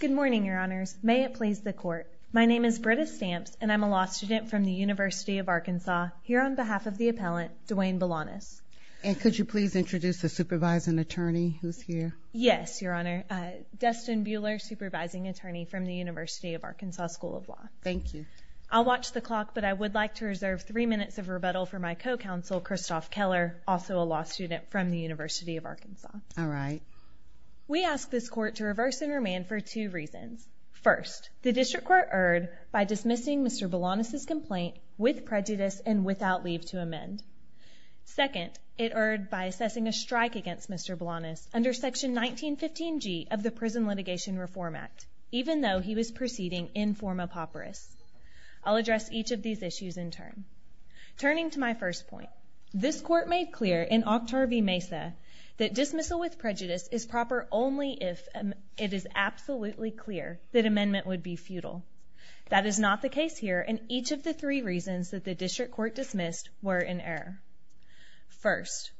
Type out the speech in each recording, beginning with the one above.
Good morning, your honors. May it please the court. My name is Britta Stamps and I'm a law student from the University of Arkansas, here on behalf of the appellant, Duane Belanus. And could you please introduce the supervising attorney who's here? Yes, your honor. Dustin Buehler, supervising attorney from the University of Arkansas School of Law. Thank you. I'll watch the clock, but I would like to reserve three minutes of rebuttal for my co-counsel, Kristoff Keller, also a law student from the University of Arkansas. All right. We ask this court to reverse and remand for two reasons. First, the district court erred by dismissing Mr. Belanus' complaint with prejudice and without leave to amend. Second, it erred by assessing a strike against Mr. Belanus under Section 1915G of the Prison Litigation Reform Act, even though he was proceeding in form of hopperis. I'll address each of these issues in turn. Turning to my first point, this court made clear in Octar v. Mesa that dismissal with prejudice is proper only if it is absolutely clear that amendment would be futile. That is not the case here, and each of the three reasons that the district court dismissed were in error. First,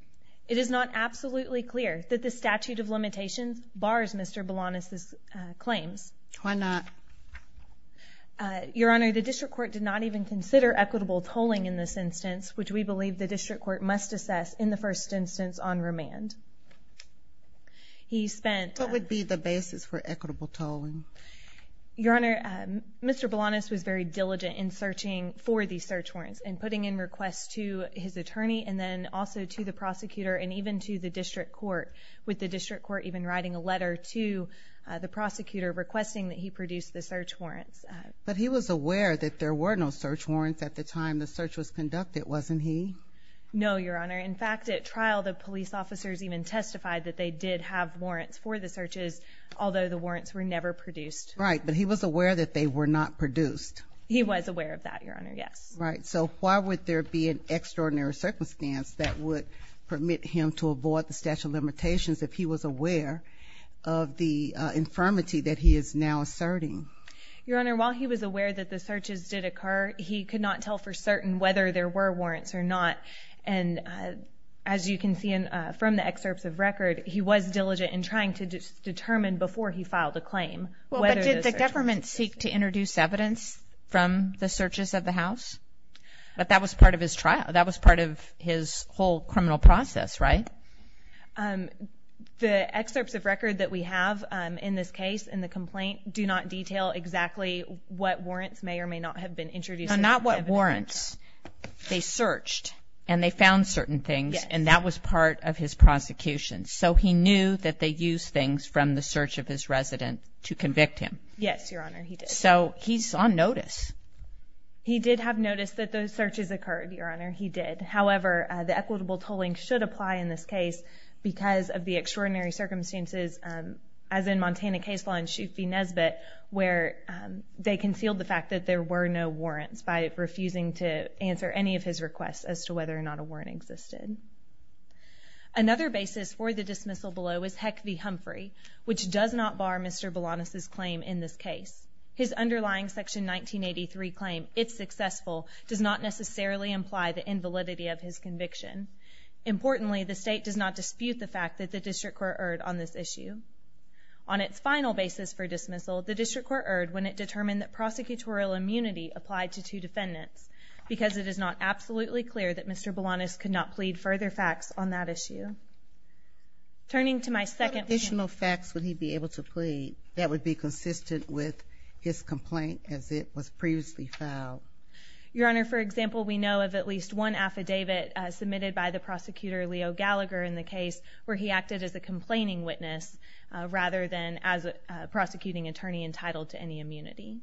it is not absolutely clear that the statute of limitations bars Mr. Belanus' claims. Why not? Your Honor, the district court did not even consider equitable tolling in this instance, which we believe the district court must assess in the first instance on remand. He spent What would be the basis for equitable tolling? Your Honor, Mr. Belanus was very diligent in searching for these search warrants and putting in requests to his attorney and then also to the prosecutor and even to the district court, with the district court even writing a letter to the prosecutor requesting that he produce the search warrants. But he was aware that there were no search warrants at the time the search was conducted, wasn't he? No, Your Honor. In fact, at trial, the police officers even testified that they did have warrants for the searches, although the warrants were never produced. Right, but he was aware that they were not produced. He was aware of that, Your Honor, yes. Right, so why would there be an extraordinary circumstance that would permit him to avoid the statute of limitations if he was aware of the infirmity that he is now asserting? Your Honor, while he was aware that the searches did occur, he could not tell for certain whether there were warrants or not. And as you can see from the excerpts of record, he was diligent in trying to determine before he filed a claim whether the search warrant was produced. Well, but did the government seek to introduce evidence from the searches of the house? But that was part of his trial. That was part of his whole criminal process, right? The excerpts of record that we have in this case, in the complaint, do not detail exactly what warrants may or may not have been introduced. No, not what warrants. They searched, and they found certain things, and that was part of his prosecution. So he knew that they used things from the search of his resident to convict him. Yes, Your Honor, he did. So he's on notice. He did have notice that those searches occurred, Your Honor. He did. However, the equitable tolling should apply in this case because of the extraordinary circumstances, as in Montana case law in Shute v. Nesbitt, where they concealed the fact that there were no warrants by refusing to answer any of his requests as to whether or not a warrant existed. Another basis for the dismissal below is Heck v. Humphrey, which does not bar Mr. Boulanus's claim in this case. His underlying Section 1983 claim, it's successful, does not necessarily imply the invalidity of his conviction. Importantly, the state does not dispute the fact that the district court erred on this issue. On its final basis for dismissal, the district court erred when it determined that prosecutorial immunity applied to two defendants because it is not absolutely clear that Mr. Boulanus could not plead further facts on that issue. What additional facts would he be able to plead that would be consistent with his complaint as it was previously filed? Your Honor, for example, we know of at least one affidavit submitted by the prosecutor, Leo Gallagher, in the case where he acted as a complaining witness rather than as a prosecuting attorney entitled to any immunity.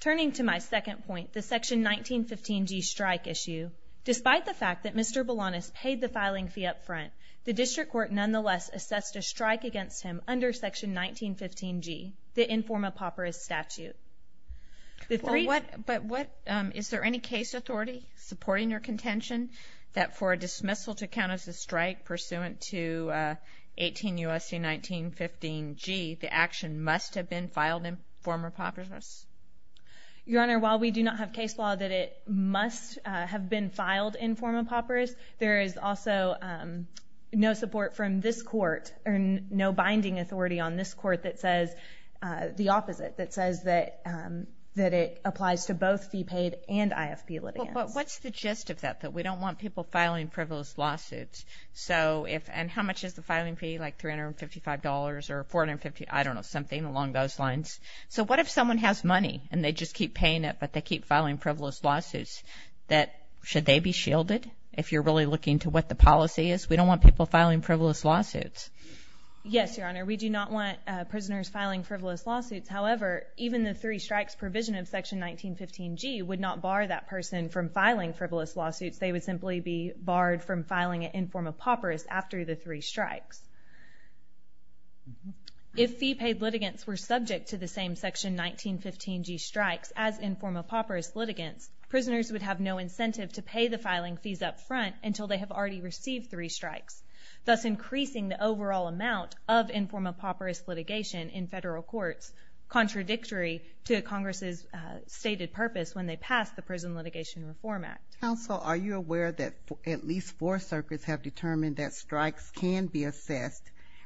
Turning to my second point, the Section 1915g strike issue, despite the fact that Mr. Boulanus paid the filing fee up front, the district court nonetheless assessed a strike against him under Section 1915g, the inform-a-papyrus statute. But what, is there any case authority supporting your contention that for a dismissal to count as a strike pursuant to 18 U.S.C. 1915g, the action must have been filed inform-a-papyrus? Your Honor, while we do not have case law that it must have been filed inform-a-papyrus, there is also no support from this court, or no binding authority on this court that says the opposite, that says that it applies to both fee paid and IFP litigants. What's the gist of that, that we don't want people filing frivolous lawsuits, and how much is the filing fee, like $355 or $450, I don't know, something along those lines? So what if someone has money and they just keep paying it but they keep filing frivolous lawsuits, should they be shielded, if you're really looking to what the policy is? We don't want people filing frivolous lawsuits. Yes, Your Honor, we do not want prisoners filing frivolous lawsuits. However, even the three strikes provision of Section 1915g would not bar that person from filing frivolous lawsuits. They would simply be barred from filing it inform-a-papyrus after the three strikes. If fee paid litigants were subject to the same Section 1915g strikes as inform-a-papyrus litigants, prisoners would have no incentive to pay the filing fees up front until they have already received three strikes, thus increasing the overall amount of inform-a-papyrus litigation in federal courts, contradictory to Congress's stated purpose when they passed the Prison Litigation Reform Act. Counsel, are you aware that at least four circuits have determined that strikes can be assessed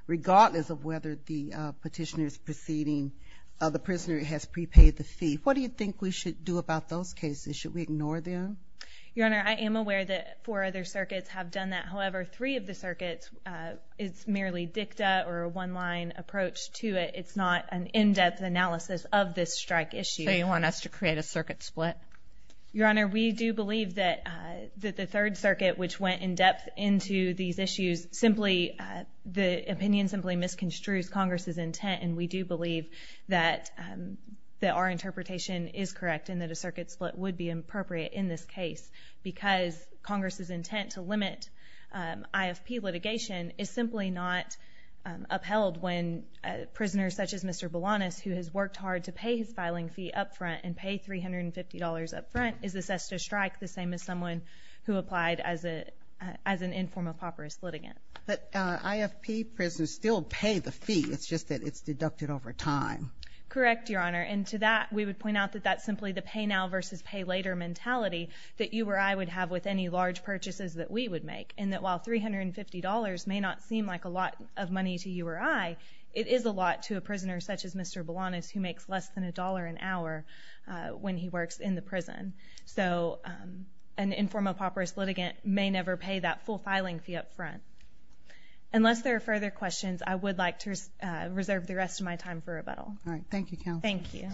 regardless of whether the petitioner is proceeding, the prisoner has prepaid the fee? What do you think we should do about those cases? Should we ignore them? Your Honor, I am aware that four other circuits have done that. However, three of the circuits, it's merely dicta or a one-line approach to it. It's not an in-depth analysis of this strike issue. So you want us to create a circuit split? Your Honor, we do believe that the Third Circuit, which went in-depth into these issues, simply the opinion simply misconstrues Congress's intent, and we do believe that our interpretation is correct and that a circuit split would be appropriate in this case because Congress's intent to limit IFP litigation is simply not upheld when a prisoner such as Mr. Boulanos, who has worked hard to pay his filing fee up front and pay $350 up front, is assessed a strike the same as someone who applied as an inform-a-papyrus litigant. But IFP prisoners still pay the fee, it's just that it's deducted over time. Correct, Your Honor, and to that, we would point out that that's simply the pay-now-versus-pay-later mentality that you or I would have with any large purchases that we would make, and that while $350 may not seem like a lot of money to you or I, it is a lot to a prisoner such as Mr. Boulanos, who makes less than a dollar an hour when he works in the prison. So an inform-a-papyrus litigant may never pay that full filing fee up front. Unless there are further questions, I would like to reserve the rest of my time for rebuttal. All right. Thank you, Counsel. Thank you.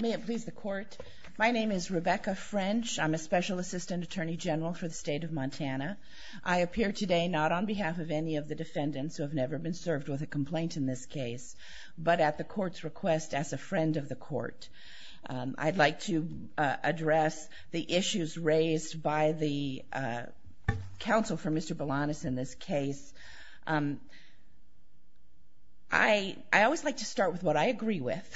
May it please the Court. My name is Rebecca French. I'm a Special Assistant Attorney General for the State of Montana. I appear today not on behalf of any of the defendants who have never been served with a complaint in this case, but at the Court's request as a friend of the Court. I'd like to address the issues raised by the counsel for Mr. Boulanos in this case. I always like to start with what I agree with,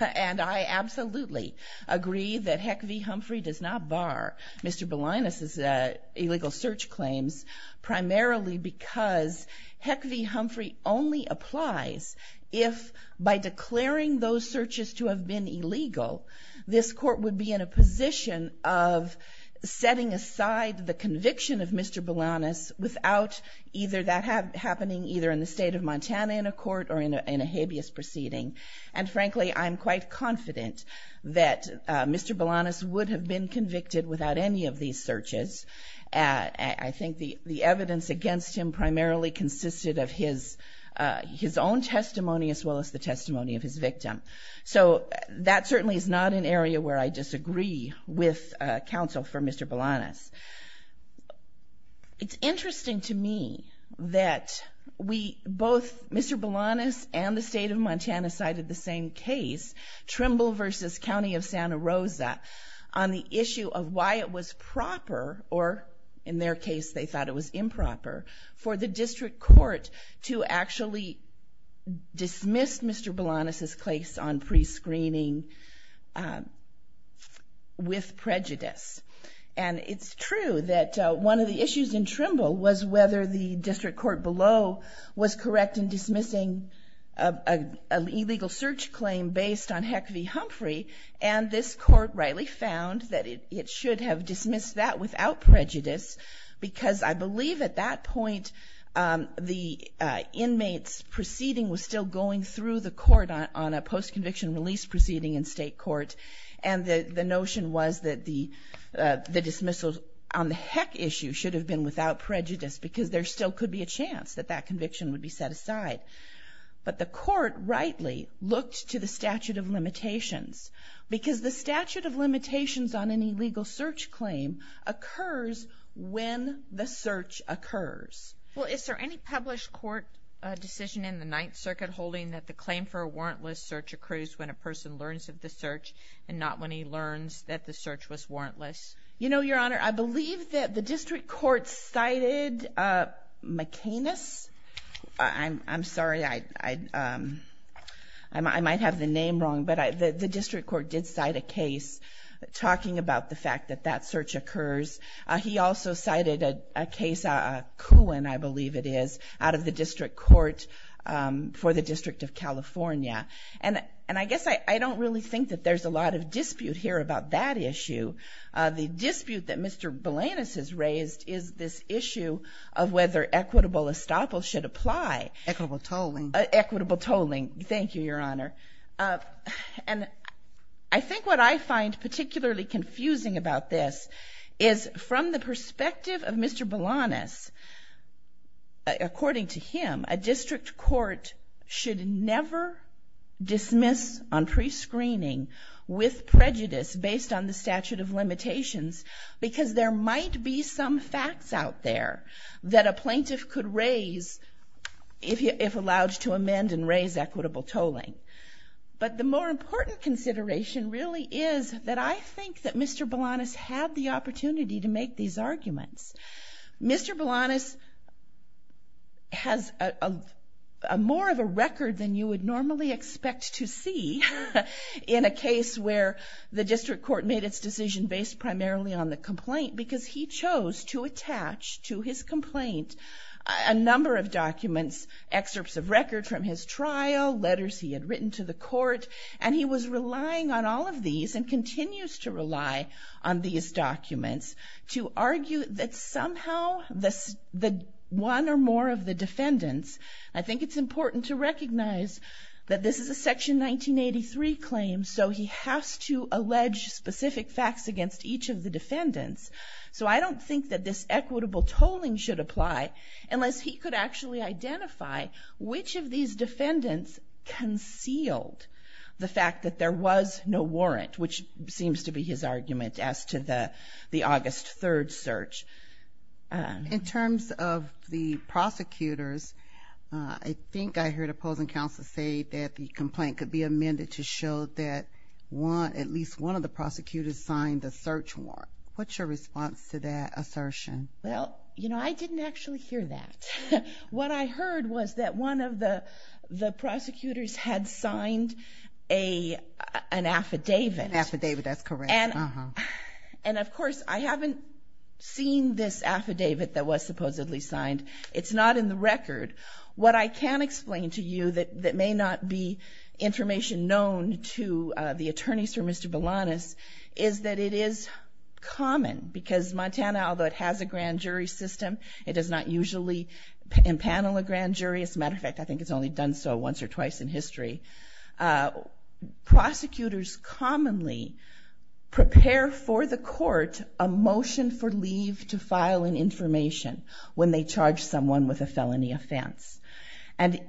and I absolutely agree that Heck v. Humphrey does not bar Mr. Boulanos' illegal search claims, primarily because Heck v. Humphrey only applies if, by declaring those searches to have been illegal, this Court would be in a position of setting aside the conviction of Mr. Boulanos without either that happening either in the State of Montana in a court or in a habeas proceeding. And frankly, I'm quite confident that Mr. Boulanos would have been convicted without any of these searches. I think the evidence against him primarily consisted of his own testimony as well as the testimony of his victim. So that certainly is not an area where I disagree with counsel for Mr. Boulanos. It's interesting to me that both Mr. Boulanos and the State of Montana cited the same case, Trimble v. County of Santa Rosa, on the issue of why it was proper, or in their case they thought it was improper, for the District Court to actually dismiss Mr. Boulanos' case on prescreening with prejudice. And it's true that one of the issues in Trimble was whether the District Court below was correct in dismissing an illegal search claim based on Heck v. Humphrey. And this Court rightly found that it should have dismissed that without prejudice because I believe at that point the inmate's proceeding was still going through the court on a post-conviction release proceeding in State court. And the notion was that the dismissal on the Heck issue should have been without prejudice because there still could be a chance that that conviction would be set aside. But the Court rightly looked to the statute of limitations because the statute of limitations on an illegal search claim occurs when the search occurs. Well, is there any published court decision in the Ninth Circuit holding that the claim for a warrantless search occurs when a person learns of the search and not when he learns that the search was warrantless? You know, Your Honor, I believe that the District Court cited McAnus. I'm sorry, I might have the name wrong, but the District Court did cite a case talking about the fact that that search occurs. He also cited a case, Kuhn, I believe it is, out of the District Court for the District of California. And I guess I don't really think that there's a lot of dispute here about that issue. The dispute that Mr. Balanus has raised is this issue of whether equitable estoppel should apply. Equitable tolling. Equitable tolling. Thank you, Your Honor. And I think what I find particularly confusing about this is from the perspective of Mr. Balanus, never dismiss on prescreening with prejudice based on the statute of limitations because there might be some facts out there that a plaintiff could raise if allowed to amend and raise equitable tolling. But the more important consideration really is that I think that Mr. Balanus had the opportunity to make these arguments. Mr. Balanus has more of a record than you would normally expect to see in a case where the District Court made its decision based primarily on the complaint because he chose to attach to his complaint a number of documents, excerpts of records from his trial, letters he had written to the court, and he was relying on all of these and continues to rely on these documents to argue that somehow the one or more of the defendants, I think it's important to recognize that this is a Section 1983 claim, so he has to allege specific facts against each of the defendants. So I don't think that this equitable tolling should apply unless he could actually identify which of these defendants concealed the fact that there was no warrant, which seems to be his argument as to the August 3rd search. In terms of the prosecutors, I think I heard opposing counsel say that the complaint could be amended to show that at least one of the prosecutors signed the search warrant. What's your response to that assertion? Well, you know, I didn't actually hear that. What I heard was that one of the prosecutors had signed an affidavit. Affidavit, that's correct. And, of course, I haven't seen this affidavit that was supposedly signed. It's not in the record. What I can explain to you that may not be information known to the attorneys for Mr. Balanus is that it is common, because Montana, although it has a grand jury system, it does not usually impanel a grand jury. As a matter of fact, I think it's only done so once or twice in history. Prosecutors commonly prepare for the court a motion for leave to file an information when they charge someone with a felony offense. And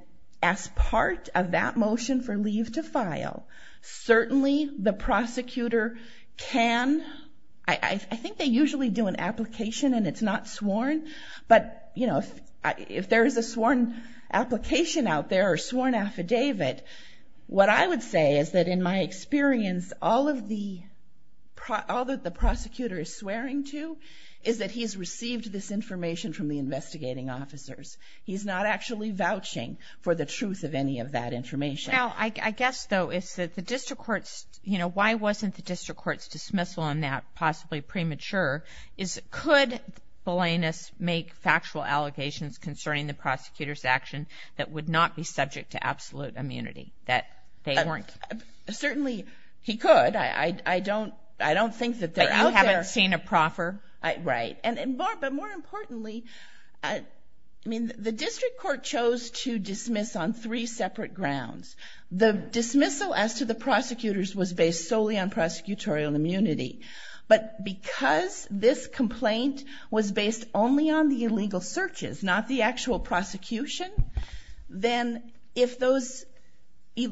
as part of that motion for leave to file, certainly the prosecutor can, I think they usually do an application and it's not sworn, but, you know, if there is a sworn application out there or a sworn affidavit, what I would say is that in my experience, all of the prosecutor is swearing to is that he's received this information from the investigating officers. He's not actually vouching for the truth of any of that information. Well, I guess, though, is that the district court's, you know, why wasn't the district court's dismissal on that possibly premature? Is, could Belanus make factual allegations concerning the prosecutor's action that would not be subject to absolute immunity, that they weren't? Certainly he could. I don't, I don't think that they're out there. But you haven't seen a proffer? Right. But more importantly, I mean, the district court chose to dismiss on three separate grounds. The dismissal as to the prosecutors was based solely on prosecutorial immunity. But because this complaint was based only on the illegal searches, not the actual prosecution, then if those, if,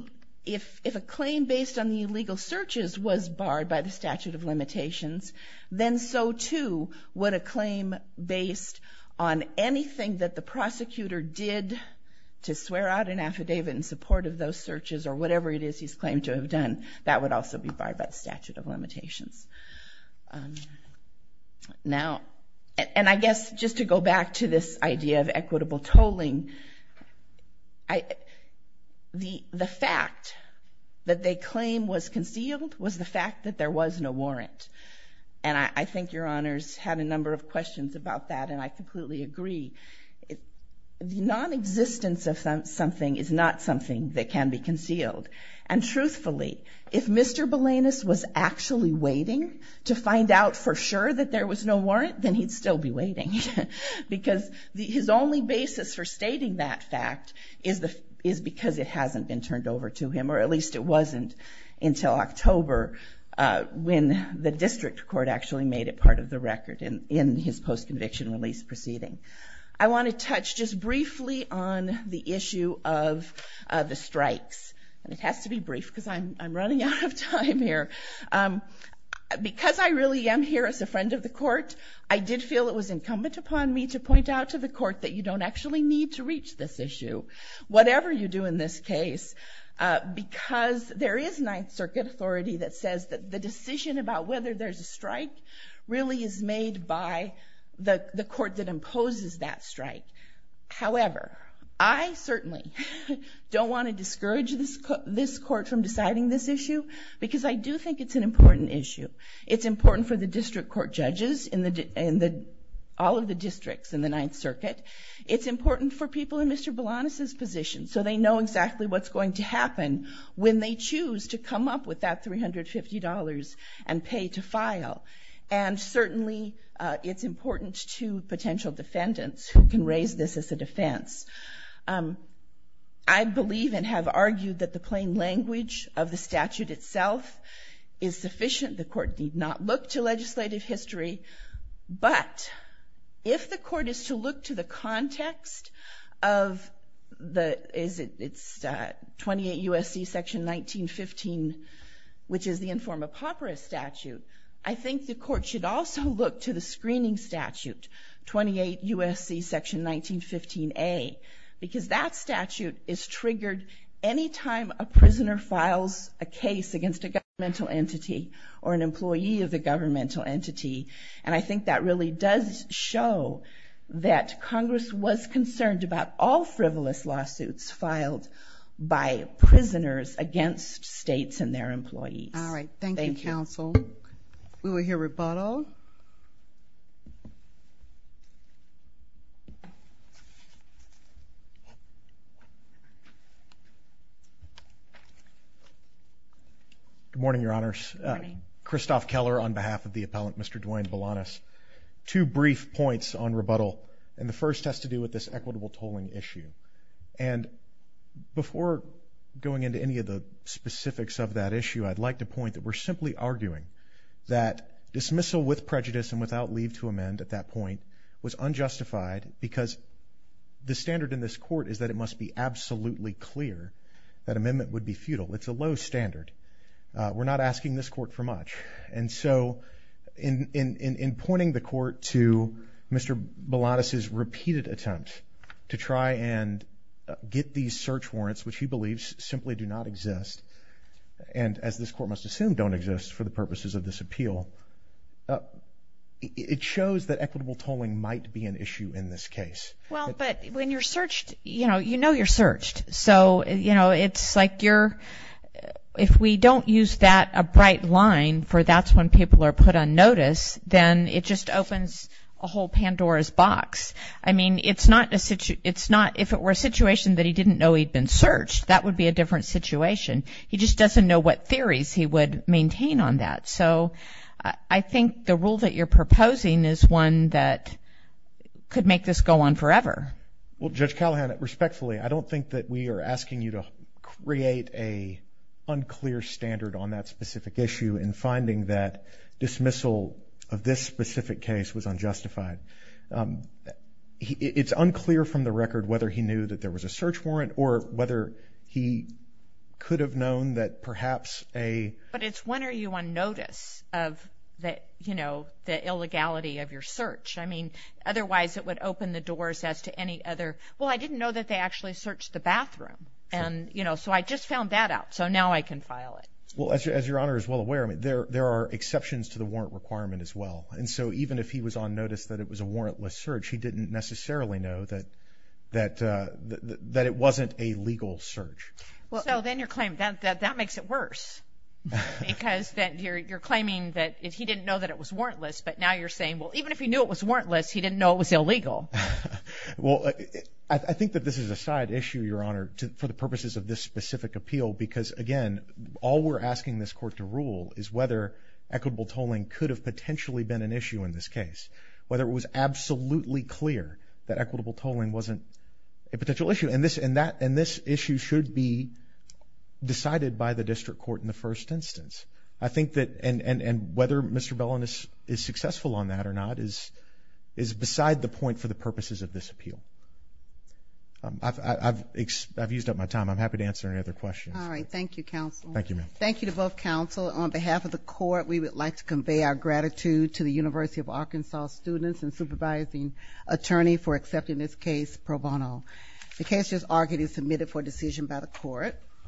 if a claim based on the illegal searches was barred by the statute of limitations, then so too would a claim based on anything that the prosecutor did to swear out an affidavit in support of those searches or whatever it is he's claimed to have done. That would also be barred by the statute of limitations. Now, and I guess just to go back to this idea of equitable tolling, I, the, the fact that they claim was concealed was the fact that there was no warrant. And I, I think your honors had a number of questions about that, and I completely agree. The nonexistence of something is not something that can be concealed. And truthfully, if Mr. Belanus was actually waiting to find out for sure that there was no warrant, then he'd still be waiting. Because his only basis for stating that fact is the, is because it hasn't been turned over to him, or at least it wasn't until October when the district court actually made it part of the record in, in his post-conviction release proceeding. I want to touch just briefly on the issue of the strikes, and it has to be brief because I'm, I'm running out of time here. Because I really am here as a friend of the court, I did feel it was incumbent upon me to point out to the court that you don't actually need to reach this issue, whatever you do in this case, because there is Ninth Circuit authority that says that the decision about whether there's a strike really is made by the, the court that imposes that strike. However, I certainly don't want to discourage this, this court from deciding this issue, because I do think it's an important issue. It's important for the district court judges in the, in the, all of the districts in the Ninth Circuit. It's important for people in Mr. Belanus's position, so they know exactly what's going to happen when they choose to come up with that $350 and pay to file. And certainly, it's important to potential defendants who can raise this as a defense. I believe and have argued that the plain language of the statute itself is sufficient. The court need not look to legislative history, but if the court is to look to the context of the, is it, it's 28 U.S.C. Section 1915, which is the Inform-a-Papyrus statute, I think the court should also look to the screening statute, 28 U.S.C. Section 1915a, because that statute is triggered any time a prisoner files a case against a governmental entity or an employee of the governmental entity, and I think that really does show that Congress was concerned about all frivolous lawsuits filed by prisoners against states and their employees. All right. Thank you, counsel. We will hear rebuttal. Good morning, Your Honors. Good morning. Christophe Keller on behalf of the appellant, Mr. Duane Belanus. Two brief points on rebuttal. The first has to do with this equitable tolling issue, and before going into any of the specifics of that issue, I'd like to point that we're simply arguing that dismissal with prejudice and without leave to amend at that point was unjustified because the standard in this court is that it must be absolutely clear that amendment would be futile. It's a low standard. We're not asking this court for much, and so in pointing the court to Mr. Belanus' repeated attempt to try and get these search warrants, which he believes simply do not exist, and as this court must assume don't exist for the purposes of this appeal, it shows that equitable tolling might be an issue in this case. Well, but when you're searched, you know you're searched, so it's like if we don't use that a bright line for that's when people are put on notice, then it just opens a whole Pandora's box. I mean, if it were a situation that he didn't know he'd been searched, that would be a different situation. He just doesn't know what theories he would maintain on that, so I think the rule that you're proposing is one that could make this go on forever. Well, Judge Callahan, respectfully, I don't think that we are asking you to create an unclear standard on that specific issue in finding that dismissal of this specific case was unjustified. It's unclear from the record whether he knew that there was a search warrant or whether he could have known that perhaps a... But it's when are you on notice of the illegality of your search? I mean, otherwise it would open the doors as to any other... Well, I didn't know that they actually searched the bathroom, and so I just found that out, so now I can file it. Well, as your Honor is well aware, there are exceptions to the warrant requirement as well, and so even if he was on notice that it was a warrantless search, he didn't necessarily know that it wasn't a legal search. So then you're claiming that that makes it worse, because you're claiming that he didn't know that it was warrantless, but now you're saying, well, even if he knew it was warrantless, he didn't know it was illegal. Well, I think that this is a side issue, Your Honor, for the purposes of this specific appeal, because again, all we're asking this Court to rule is whether equitable tolling could have potentially been an issue in this case, whether it was absolutely clear that equitable tolling wasn't a potential issue, and this issue should be decided by the District Court in the first instance. I think that... And whether Mr. Bellin is successful on that or not is beside the point for the purposes of this appeal. I've used up my time. I'm happy to answer any other questions. Thank you, ma'am. Thank you to both counsel. On behalf of the Court, we would like to convey our gratitude to the University of Arkansas students and supervising attorney for accepting this case pro bono. The case is argued and submitted for decision by the Court.